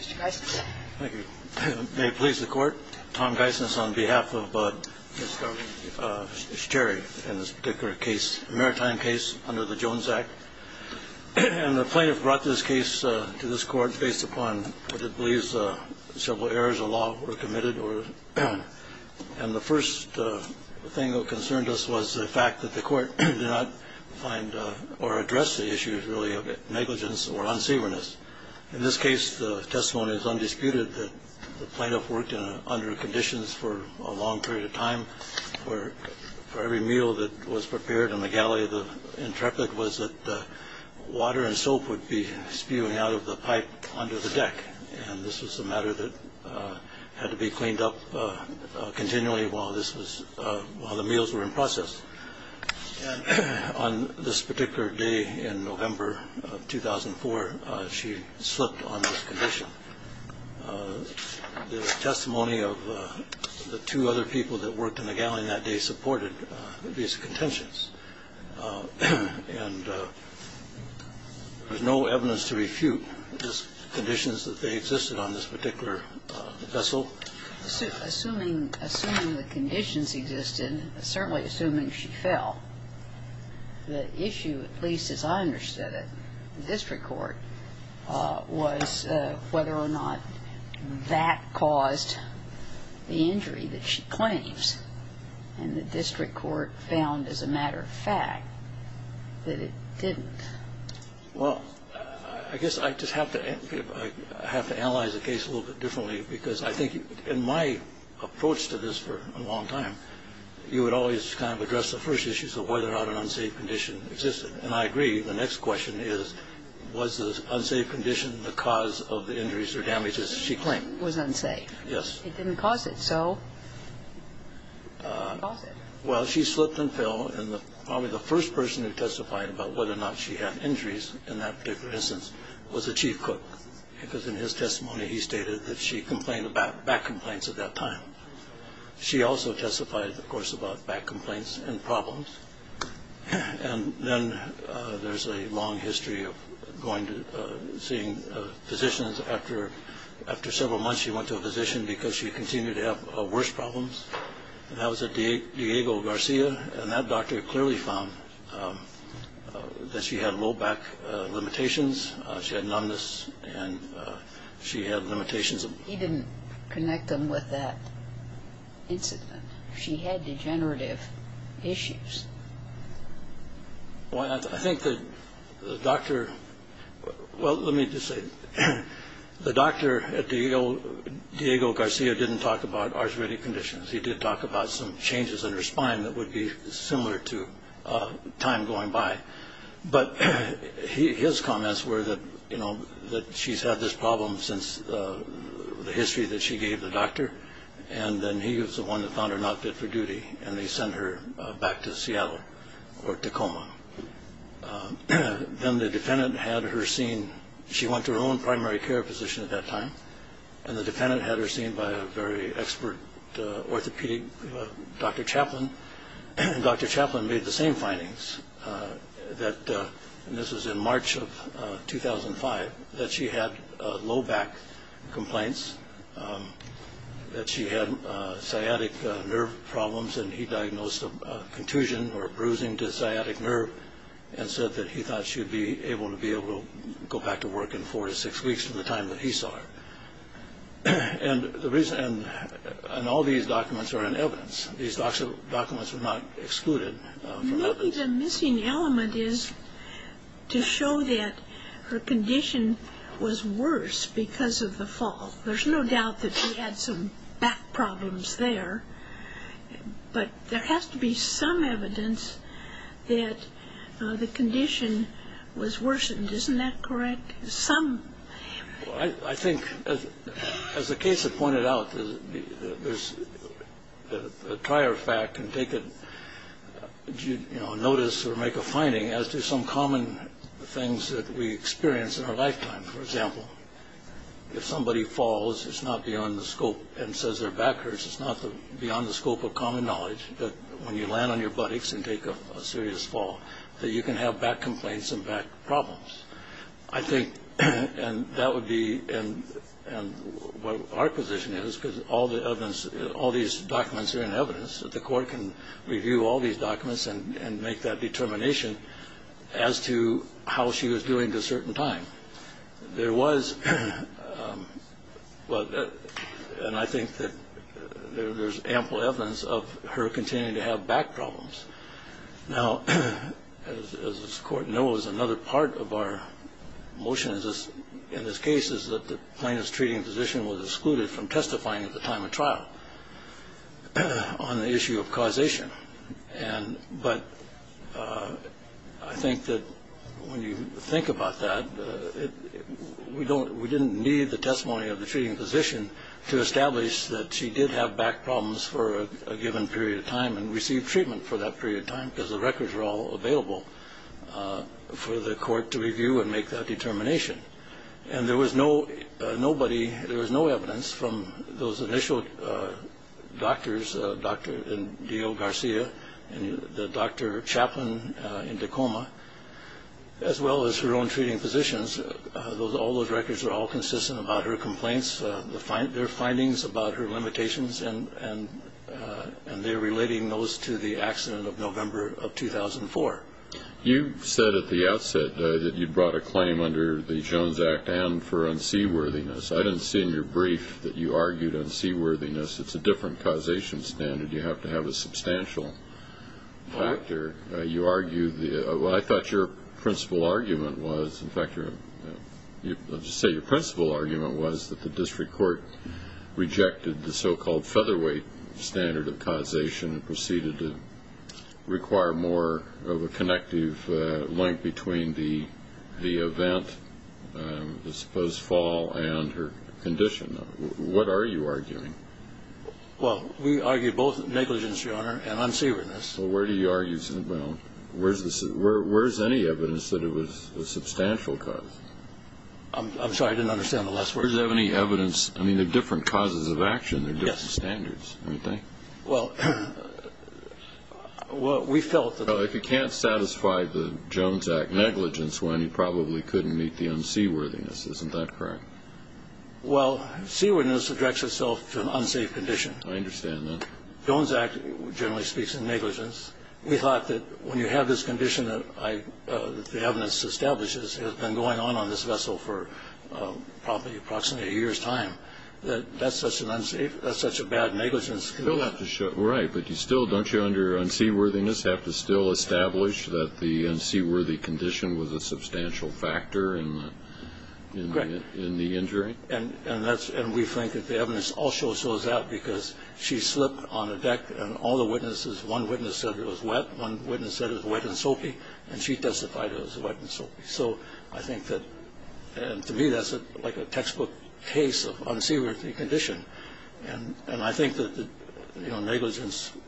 Mr. Geisnes. Thank you. May it please the Court, Tom Geisnes on behalf of Ms. Sherry in this particular case, a maritime case under the Jones Act. And the plaintiff brought this case to this Court based upon what it believes several errors of law were committed, and the first thing that concerned us was the fact that the Court did not find or address the issues really of negligence or unsaverness. In this case, the testimony is undisputed that the plaintiff worked under conditions for a long period of time, where for every meal that was prepared in the galley, the intrepid was that water and soap would be spewing out of the pipe onto the deck. And this was a matter that had to be cleaned up continually while the meals were in process. And on this particular day in November of 2004, she slipped on this condition. The testimony of the two other people that worked in the galley in that day supported these contentions, and there's no evidence to refute the conditions that they existed on this particular vessel. Assuming the conditions existed, certainly assuming she fell, the issue, at least as I understood it, in the district court, was whether or not that caused the injury that she claims. And the district court found, as a matter of fact, that it didn't. Well, I guess I just have to analyze the case a little bit differently, because I think in my approach to this for a long time, you would always kind of address the first issues of whether or not an unsafe condition existed. And I agree. The next question is, was the unsafe condition the cause of the injuries or damages she claimed? It was unsafe. Yes. It didn't cause it, so it didn't cause it. Well, she slipped and fell, and probably the first person who testified about whether or not she had injuries in that particular instance was the chief cook, because in his case, he had back complaints at that time. She also testified, of course, about back complaints and problems. And then there's a long history of going to seeing physicians after several months she went to a physician because she continued to have worse problems. And that was at Diego Garcia, and that doctor clearly found that she had low back limitations, she had numbness, and she had limitations of he didn't connect them with that incident. She had degenerative issues. Well, I think that the doctor, well, let me just say, the doctor at Diego Garcia didn't talk about arthritic conditions. He did talk about some changes in her spine that would be similar to time going by. But his comments were that she's had this problem since the history that she gave the doctor, and then he was the one that found her not fit for duty, and they sent her back to Seattle or Tacoma. Then the defendant had her seen, she went to her own primary care position at that time, and the defendant had her seen by a very expert orthopedic, Dr. Chaplin. Dr. Chaplin made the same findings that, and this was in March of 2005, that she had low back complaints, that she had sciatic nerve problems, and he diagnosed a contusion or bruising to the sciatic nerve and said that he thought she would be able to go back to work in four to six weeks from the time that he saw her. And all these documents are in evidence. These documents were not excluded from evidence. Maybe the missing element is to show that her condition was worse because of the fall. There's no doubt that she had some back problems there, but there has to be some evidence that the condition was worsened, isn't that correct? Some. I think, as the case had pointed out, the prior fact can take notice or make a finding as to some common things that we experience in our lifetime. For example, if somebody falls, it's not beyond the scope, and says their back hurts, it's not beyond the scope of common knowledge that when you land on your buttocks and take a serious fall that you can have back complaints and back problems. I think that would be what our position is because all these documents are in evidence that the court can review all these documents and make that determination as to how she was doing at a certain time. There was, and I think that there's ample evidence of her continuing to have back problems. Now, as this Court knows, another part of our motion in this case is that the plaintiff's treating physician was excluded from testifying at the time of trial on the issue of causation. But I think that when you think about that, we didn't need the testimony of the treating physician to establish that she did have back problems for a given period of time and received treatment for that period of time because the records were all available for the court to review and make that determination. And there was no evidence from those initial doctors, Dr. and D.O. Garcia, and the doctor chaplain in Tacoma, as well as her own treating physicians. All those records are all consistent about her complaints, their findings about her limitations, and they're relating those to the accident of November of 2004. You said at the outset that you'd brought a claim under the Jones Act and for unseaworthiness. I didn't see in your brief that you argued unseaworthiness. It's a different causation standard. You have to have a substantial factor. You argue the – well, I thought your principal argument was – in fact, standard of causation and proceeded to require more of a connective link between the event, the supposed fall, and her condition. What are you arguing? Well, we argue both negligence, Your Honor, and unseaworthiness. Well, where do you argue – well, where is any evidence that it was a substantial cause? I'm sorry, I didn't understand the last word. Where is there any evidence – I mean, they're different causes of action. They're different standards, don't you think? Well, we felt that – Well, if you can't satisfy the Jones Act negligence, then you probably couldn't meet the unseaworthiness. Isn't that correct? Well, seaworthiness directs itself to an unsafe condition. I understand that. Jones Act generally speaks in negligence. We thought that when you have this condition that the evidence establishes has been going on on this vessel for probably approximately a year's time, that that's such a bad negligence. Right, but you still – don't you, under unseaworthiness, have to still establish that the unseaworthy condition was a substantial factor in the injury? And we think that the evidence also shows that because she slipped on a deck and all the witnesses – one witness said it was wet, one witness said it was wet and soapy, and she testified it was wet and soapy. So I think that – and to me that's like a textbook case of unseaworthy condition. And I think that negligence –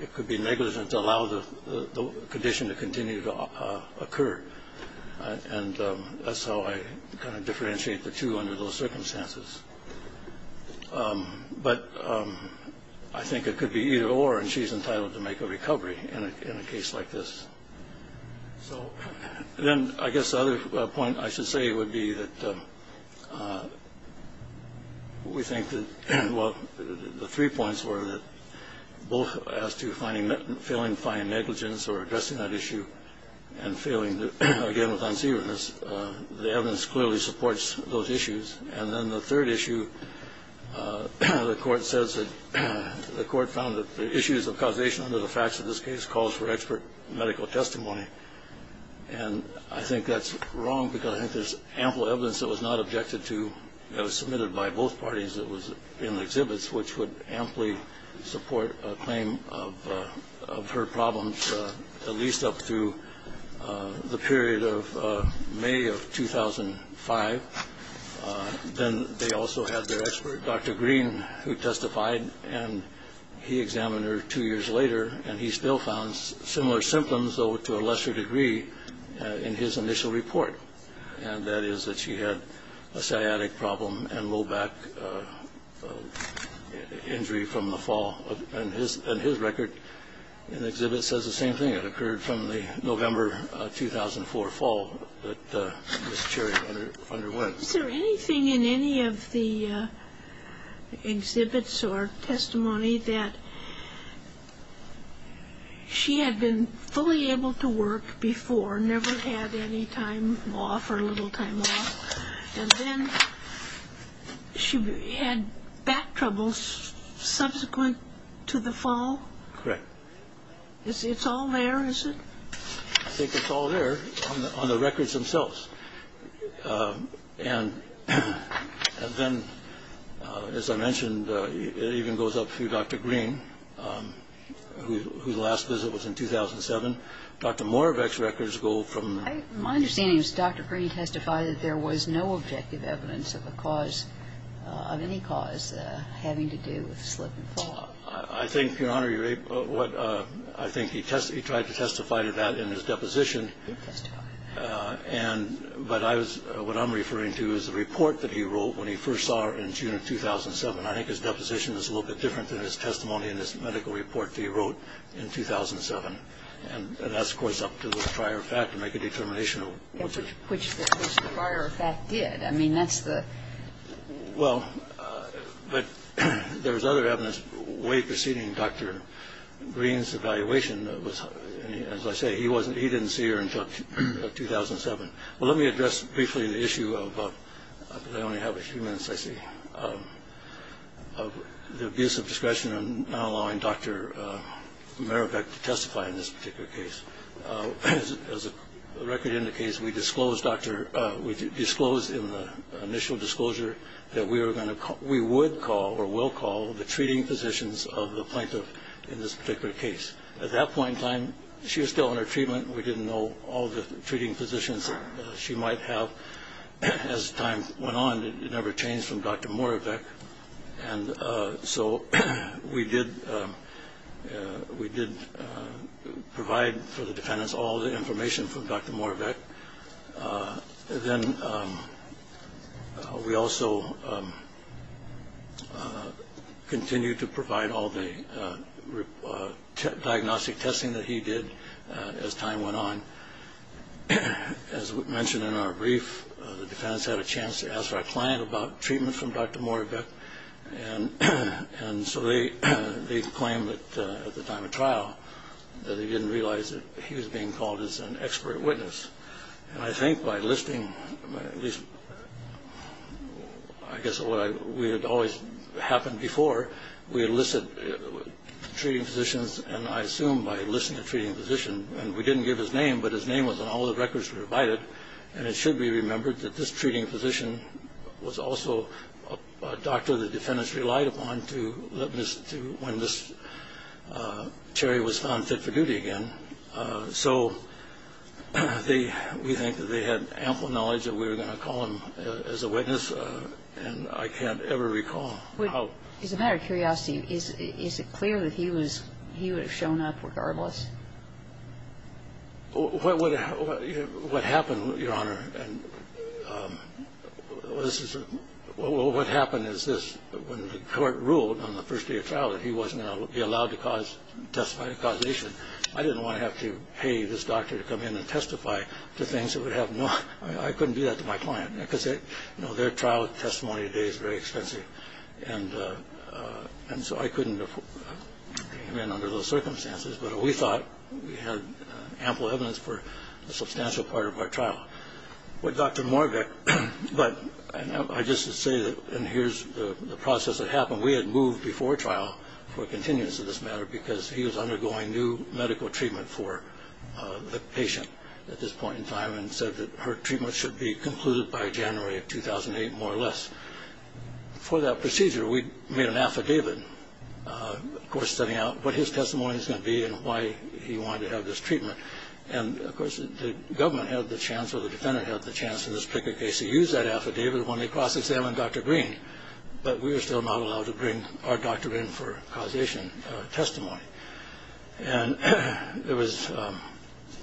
it could be negligence to allow the condition to continue to occur. And that's how I kind of differentiate the two under those circumstances. But I think it could be either or, and she's entitled to make a recovery in a case like this. So then I guess the other point I should say would be that we think that – well, the three points were that both as to finding – failing to find negligence or addressing that issue and failing, again, with unseaworthiness, the evidence clearly supports those issues. And then the third issue, the Court says that the Court found that the issues of causation under the facts of this case calls for expert medical testimony. And I think that's wrong because I think there's ample evidence that was not objected to, that was submitted by both parties that was in the exhibits, which would amply support a claim of her problems at least up through the period of May of 2005. Then they also had their expert, Dr. Green, who testified. And he examined her two years later, and he still found similar symptoms, though to a lesser degree, in his initial report. And that is that she had a sciatic problem and low back injury from the fall. And his record in the exhibit says the same thing. It occurred from the November 2004 fall that Ms. Cherry underwent. Is there anything in any of the exhibits or testimony that she had been fully able to work before, never had any time off or little time off, and then she had back troubles subsequent to the fall? Correct. It's all there, is it? I think it's all there on the records themselves. And then, as I mentioned, it even goes up through Dr. Green, whose last visit was in 2007. Dr. Moravec's records go from the – My understanding is Dr. Green testified that there was no objective evidence of a cause, I think, Your Honor, you're able to – I think he tried to testify to that in his deposition. He testified. But I was – what I'm referring to is the report that he wrote when he first saw her in June of 2007. I think his deposition is a little bit different than his testimony in his medical report that he wrote in 2007. And that's, of course, up to the prior fact to make a determination. Which the prior fact did. I mean, that's the – Well, but there was other evidence way preceding Dr. Green's evaluation. As I say, he wasn't – he didn't see her until 2007. Well, let me address briefly the issue of – I only have a few minutes, I see – of the abuse of discretion in not allowing Dr. Moravec to testify in this particular case. As the record indicates, we disclosed in the initial disclosure that we would call or will call the treating physicians of the plaintiff in this particular case. At that point in time, she was still in her treatment. We didn't know all the treating physicians she might have. As time went on, it never changed from Dr. Moravec. And so we did provide for the defendants all the information from Dr. Moravec. Then we also continued to provide all the diagnostic testing that he did as time went on. As we mentioned in our brief, the defendants had a chance to ask our client about treatment from Dr. Moravec. And so they claimed at the time of trial that they didn't realize that he was being called as an expert witness. And I think by listing – at least, I guess, what had always happened before, we had listed treating physicians, and I assume by listing a treating physician – and we didn't give his name, but his name was on all the records provided, and it should be remembered that this treating physician was also a doctor the defendants relied upon to – when this Cherry was found fit for duty again. So we think that they had ample knowledge that we were going to call him as a witness, and I can't ever recall how – what happened, Your Honor – what happened is this. When the court ruled on the first day of trial that he wasn't going to be allowed to testify to causation, I didn't want to have to pay this doctor to come in and testify to things that would have no – I couldn't do that to my client, because their trial testimony today is very expensive. And so I couldn't bring him in under those circumstances. But we thought we had ample evidence for a substantial part of our trial. With Dr. Moravec, but – and I just say that – and here's the process that happened. We had moved before trial for continuance of this matter, because he was undergoing new medical treatment for the patient at this point in time and said that her treatment should be concluded by January of 2008, more or less. For that procedure, we made an affidavit, of course, setting out what his testimony was going to be and why he wanted to have this treatment. And, of course, the government had the chance or the defendant had the chance in this particular case to use that affidavit when they cross-examined Dr. Green. But we were still not allowed to bring our doctor in for causation testimony. And it was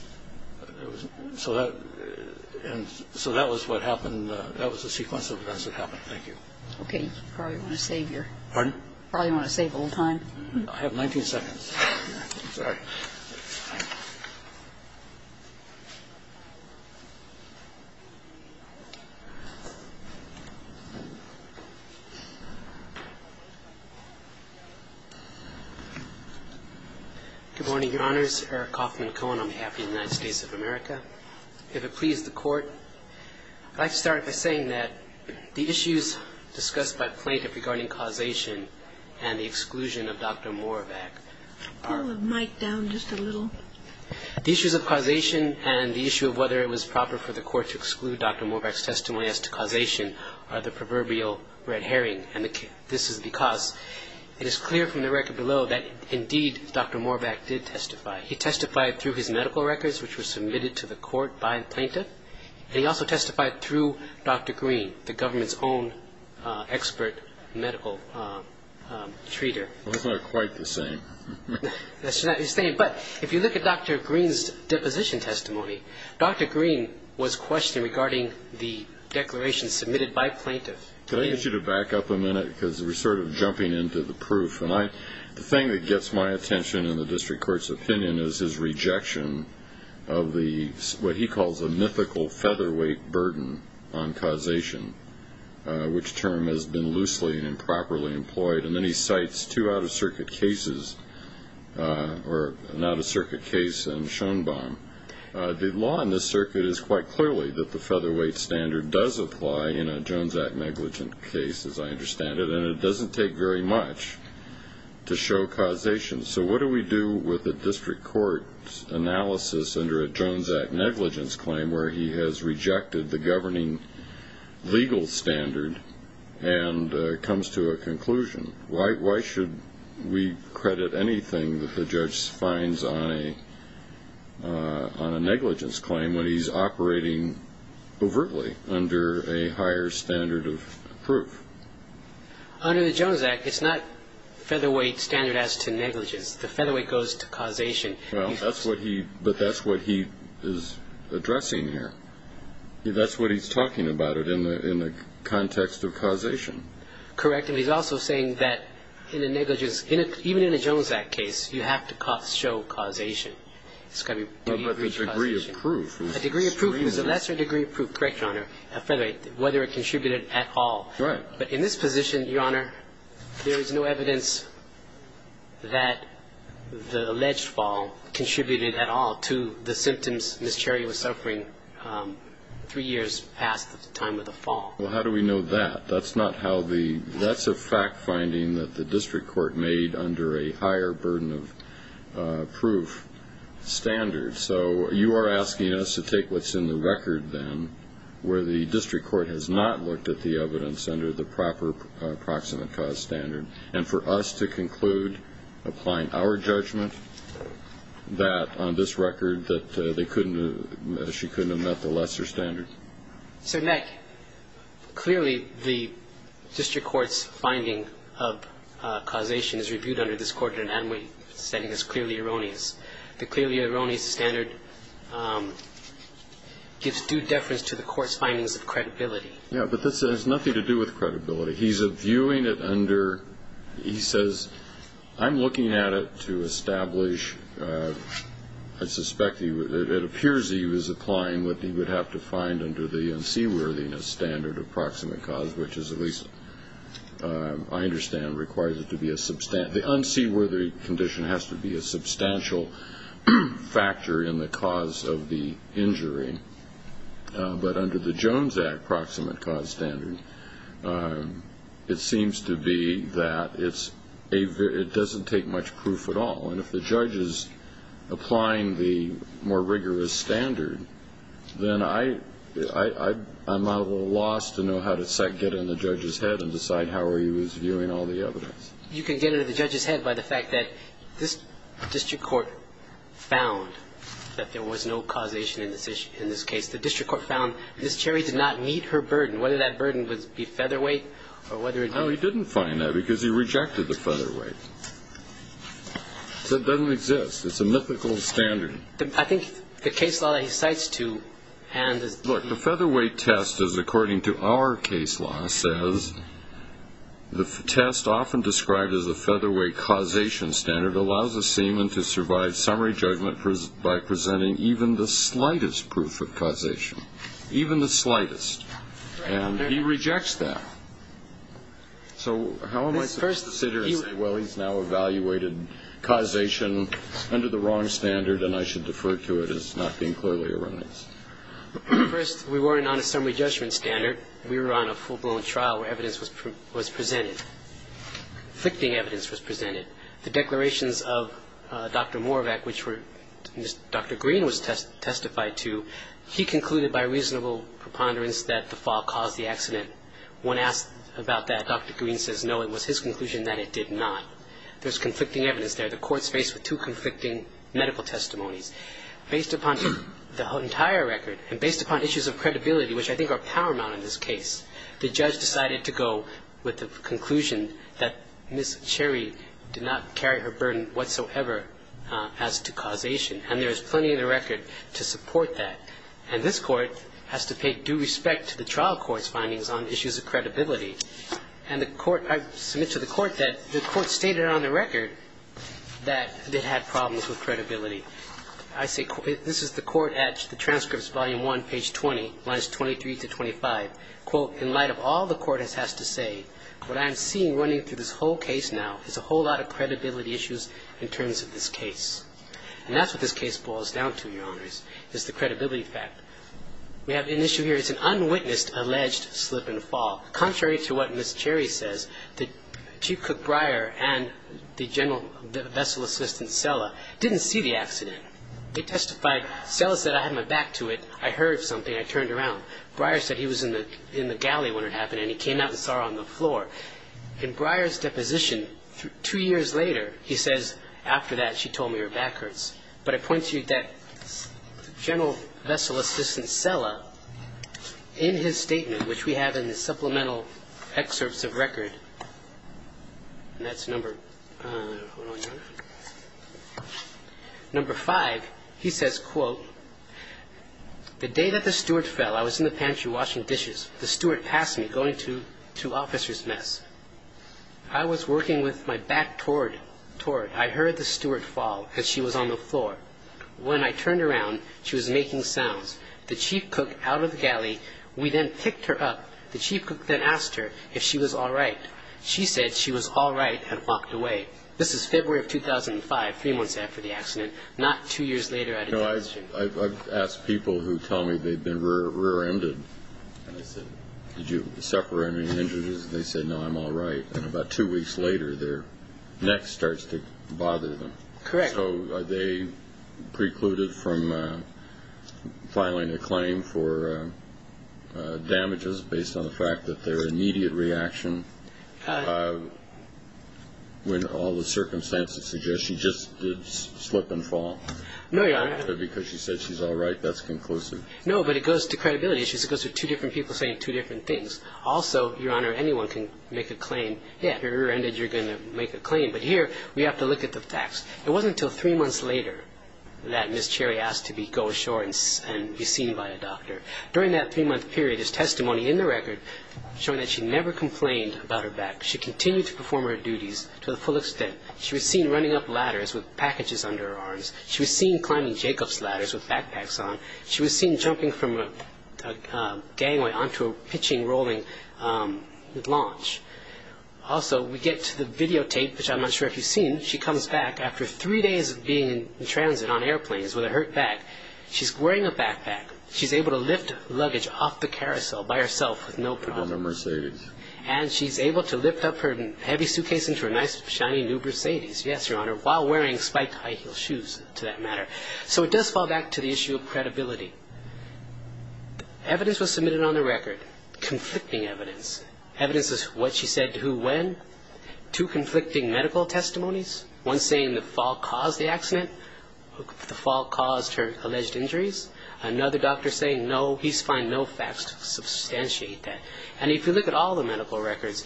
– so that – and so that was what happened. That was the sequence of events that happened. Thank you. Okay. You probably want to save your – Pardon? Probably want to save a little time. I have 19 seconds. Sorry. Good morning, Your Honors. Eric Hoffman Cohen on behalf of the United States of America. If it pleases the Court, I'd like to start by saying that the issues discussed by Plaintiff regarding causation and the exclusion of Dr. Moravac are – Pull the mic down just a little. The issues of causation and the issue of whether it was proper for the Court to exclude Dr. Moravac's testimony as to causation are the proverbial red herring. And this is because it is clear from the record below that, indeed, Dr. Moravac did testify. He testified through his medical records, which were submitted to the Court by the Plaintiff. And he also testified through Dr. Green, the government's own expert medical treater. Well, that's not quite the same. It's not the same. But if you look at Dr. Green's deposition testimony, Dr. Green was questioned regarding the declaration submitted by Plaintiff. Could I get you to back up a minute? Because we're sort of jumping into the proof. And the thing that gets my attention in the district court's opinion is his rejection of what he calls a mythical featherweight burden on causation, which term has been loosely and improperly employed. And then he cites two out-of-circuit cases, or an out-of-circuit case in Schoenbaum. The law in this circuit is quite clearly that the featherweight standard does apply in a Jones Act negligent case, as I understand it, and it doesn't take very much to show causation. So what do we do with the district court's analysis under a Jones Act negligence claim where he has rejected the governing legal standard and comes to a conclusion? Why should we credit anything that the judge finds on a negligence claim when he's operating overtly under a higher standard of proof? Under the Jones Act, it's not featherweight standardized to negligence. The featherweight goes to causation. But that's what he is addressing here. That's what he's talking about in the context of causation. Correct. And he's also saying that even in a Jones Act case, you have to show causation. It's got to be degree of proof. A degree of proof is a lesser degree of proof, correct, Your Honor, of featherweight, whether it contributed at all. Right. But in this position, Your Honor, there is no evidence that the alleged fall contributed at all to the symptoms Ms. Cherry was suffering three years past the time of the fall. Well, how do we know that? That's not how the ñ that's a fact finding that the district court made under a higher burden of proof standard. So you are asking us to take what's in the record, then, where the district court has not looked at the evidence under the proper proximate cause standard, and for us to conclude, applying our judgment, that on this record that they couldn't have ñ that she couldn't have met the lesser standard? So, Nick, clearly the district court's finding of causation is reviewed under this court in an anomaly setting as clearly erroneous. The clearly erroneous standard gives due deference to the court's findings of credibility. Yeah, but this has nothing to do with credibility. He's viewing it under ñ he says, I'm looking at it to establish, I suspect, it appears he was applying what he would have to find under the unseaworthiness standard of proximate cause, which is at least, I understand, requires it to be a ñ the unseaworthy condition has to be a substantial factor in the cause of the injury. But under the Jones Act proximate cause standard, it seems to be that it doesn't take much proof at all. And if the judge is applying the more rigorous standard, then I'm at a loss to know how to get in the judge's head and decide how he was viewing all the evidence. You can get into the judge's head by the fact that this district court found that there was no causation in this case. The district court found this cherry did not meet her burden, whether that burden would be featherweight or whether it didn't. No, he didn't find that because he rejected the featherweight. So it doesn't exist. It's a mythical standard. I think the case law that he cites to ñ Look, the featherweight test is, according to our case law, says, the test often described as the featherweight causation standard allows a seaman to survive summary judgment by presenting even the slightest proof of causation. Even the slightest. And he rejects that. So how am I supposed to sit here and say, well, he's now evaluated causation under the wrong standard, and I should defer to it as not being clearly erroneous? First, we weren't on a summary judgment standard. We were on a full-blown trial where evidence was presented, conflicting evidence was presented. The declarations of Dr. Moravac, which Dr. Green was testified to, he concluded by reasonable preponderance that the fall caused the accident. When asked about that, Dr. Green says, no, it was his conclusion that it did not. There's conflicting evidence there. The court's faced with two conflicting medical testimonies. Based upon the entire record and based upon issues of credibility, which I think are paramount in this case, the judge decided to go with the conclusion that Ms. Cherry did not carry her burden whatsoever as to causation. And there is plenty in the record to support that. And this court has to pay due respect to the trial court's findings on issues of credibility. And the court ‑‑ I submit to the court that the court stated on the record that it had problems with credibility. I say this is the court at the transcripts, volume 1, page 20, lines 23 to 25. Quote, in light of all the court has to say, what I am seeing running through this whole case now is a whole lot of credibility issues in terms of this case. And that's what this case boils down to, Your Honors, is the credibility fact. We have an issue here. It's an unwitnessed alleged slip and fall. Contrary to what Ms. Cherry says, Chief Cook Breyer and the general vessel assistant, Sella, didn't see the accident. They testified. Sella said, I had my back to it. I heard something. I turned around. Breyer said he was in the galley when it happened, and he came out and saw her on the floor. In Breyer's deposition, two years later, he says, after that, she told me her back hurts. But I point to you that general vessel assistant, Sella, in his statement, which we have in the supplemental excerpts of record, and that's number five. He says, quote, the day that the steward fell, I was in the pantry washing dishes. The steward passed me, going to officer's mess. I was working with my back toward. I heard the steward fall because she was on the floor. When I turned around, she was making sounds. The chief cook, out of the galley, we then picked her up. The chief cook then asked her if she was all right. She said she was all right and walked away. This is February of 2005, three months after the accident, not two years later at a deposition. I've asked people who tell me they've been rear-ended. Did you separate any injuries? They said, no, I'm all right. About two weeks later, their neck starts to bother them. Correct. So they precluded from filing a claim for damages based on the fact that their immediate reaction, when all the circumstances suggest she just did slip and fall. No, Your Honor. Because she said she's all right. That's conclusive. No, but it goes to credibility issues. It goes to two different people saying two different things. Also, Your Honor, anyone can make a claim. Yeah, if you're rear-ended, you're going to make a claim. But here, we have to look at the facts. It wasn't until three months later that Ms. Cherry asked to go ashore and be seen by a doctor. During that three-month period, there's testimony in the record showing that she never complained about her back. She continued to perform her duties to the full extent. She was seen running up ladders with packages under her arms. She was seen climbing Jacob's ladders with backpacks on. She was seen jumping from a gangway onto a pitching rolling launch. Also, we get to the videotape, which I'm not sure if you've seen. She comes back after three days of being in transit on airplanes with a hurt back. She's wearing a backpack. She's able to lift luggage off the carousel by herself with no problem. On a Mercedes. And she's able to lift up her heavy suitcase into a nice shiny new Mercedes, yes, Your Honor, while wearing spiked high-heeled shoes, to that matter. So it does fall back to the issue of credibility. Evidence was submitted on the record. Conflicting evidence. Evidence is what she said to who when. Two conflicting medical testimonies. One saying the fall caused the accident. The fall caused her alleged injuries. Another doctor saying, no, he's find no facts to substantiate that. And if you look at all the medical records,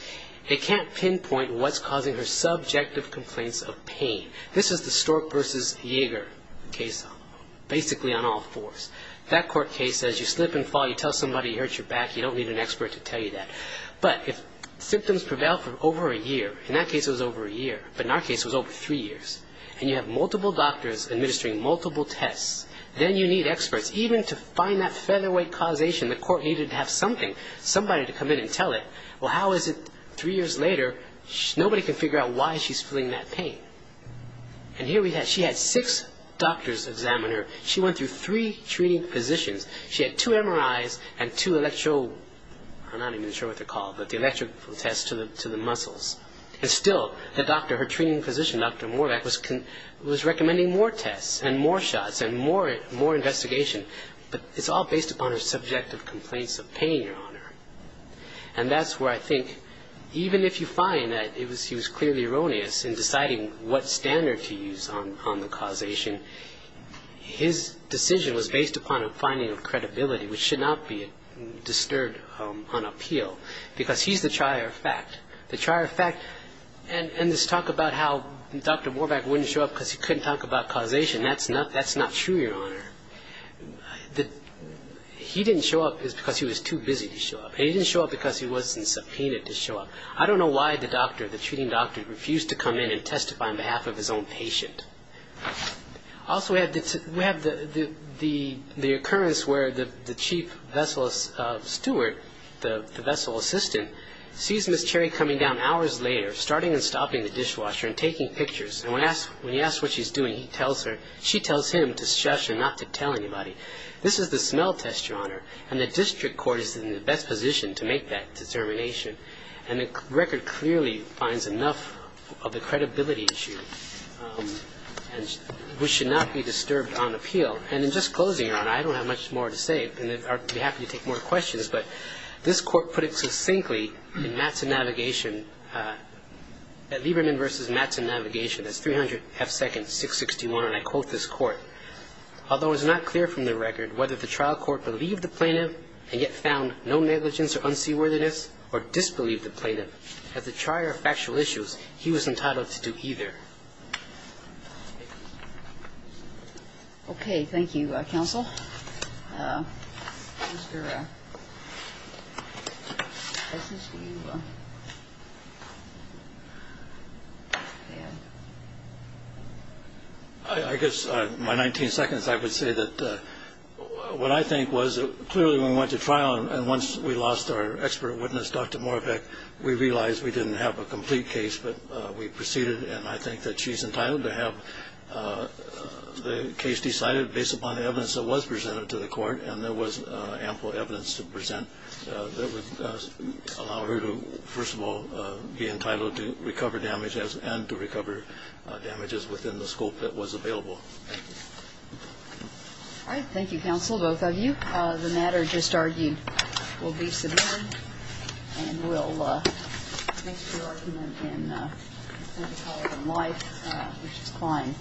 they can't pinpoint what's causing her subjective complaints of pain. This is the Stork versus Yeager case. Basically on all fours. That court case says you slip and fall. You tell somebody you hurt your back. You don't need an expert to tell you that. But if symptoms prevail for over a year, in that case it was over a year, but in our case it was over three years, and you have multiple doctors administering multiple tests, then you need experts even to find that featherweight causation. The court needed to have something, somebody to come in and tell it. Well, how is it three years later, nobody can figure out why she's feeling that pain. And here we had, she had six doctors examine her. She went through three treating physicians. She had two MRIs and two electro, I'm not even sure what they're called, but the electrical tests to the muscles. And still, the doctor, her treating physician, Dr. Moravac, was recommending more tests and more shots and more investigation. But it's all based upon her subjective complaints of pain on her. And that's where I think, even if you find that he was clearly erroneous in deciding what standard to use on the causation, his decision was based upon a finding of credibility, which should not be disturbed on appeal, because he's the trier of fact. The trier of fact, and this talk about how Dr. Moravac wouldn't show up because he couldn't talk about causation, that's not true, Your Honor. He didn't show up because he was too busy to show up, and he didn't show up because he wasn't subpoenaed to show up. I don't know why the doctor, the treating doctor, refused to come in and testify on behalf of his own patient. Also, we have the occurrence where the chief vessel steward, the vessel assistant, sees Miss Cherry coming down hours later, starting and stopping the dishwasher and taking pictures. And when he asks what she's doing, he tells her, she tells him to shush and not to tell anybody. This is the smell test, Your Honor, and the district court is in the best position to make that determination. And the record clearly finds enough of the credibility issue, which should not be disturbed on appeal. And in just closing, Your Honor, I don't have much more to say, and I'd be happy to take more questions, but this court put it succinctly in Mattson Navigation, that Lieberman v. Mattson Navigation, that's 300 half-seconds, 661, and I quote this court, although it's not clear from the record whether the trial court believed the plaintiff and yet found no negligence or unseaworthiness or disbelieved the plaintiff, at the trier of factual issues, he was entitled to do either. Okay. Thank you, counsel. Mr. Essence, do you have a hand? I guess my 19 seconds I would say that what I think was clearly when we went to trial and once we lost our expert witness, Dr. Moravec, we realized we didn't have a complete case, but we proceeded, and I think that she's entitled to have the case decided based upon the evidence that was presented to the court, and there was ample evidence to present that would allow her to, first of all, be entitled to recover damages and to recover damages within the scope that was available. Thank you. All right. Thank you, counsel, both of you. The matter just argued will be submitted, and we'll make the argument in the College of Life, which is fine.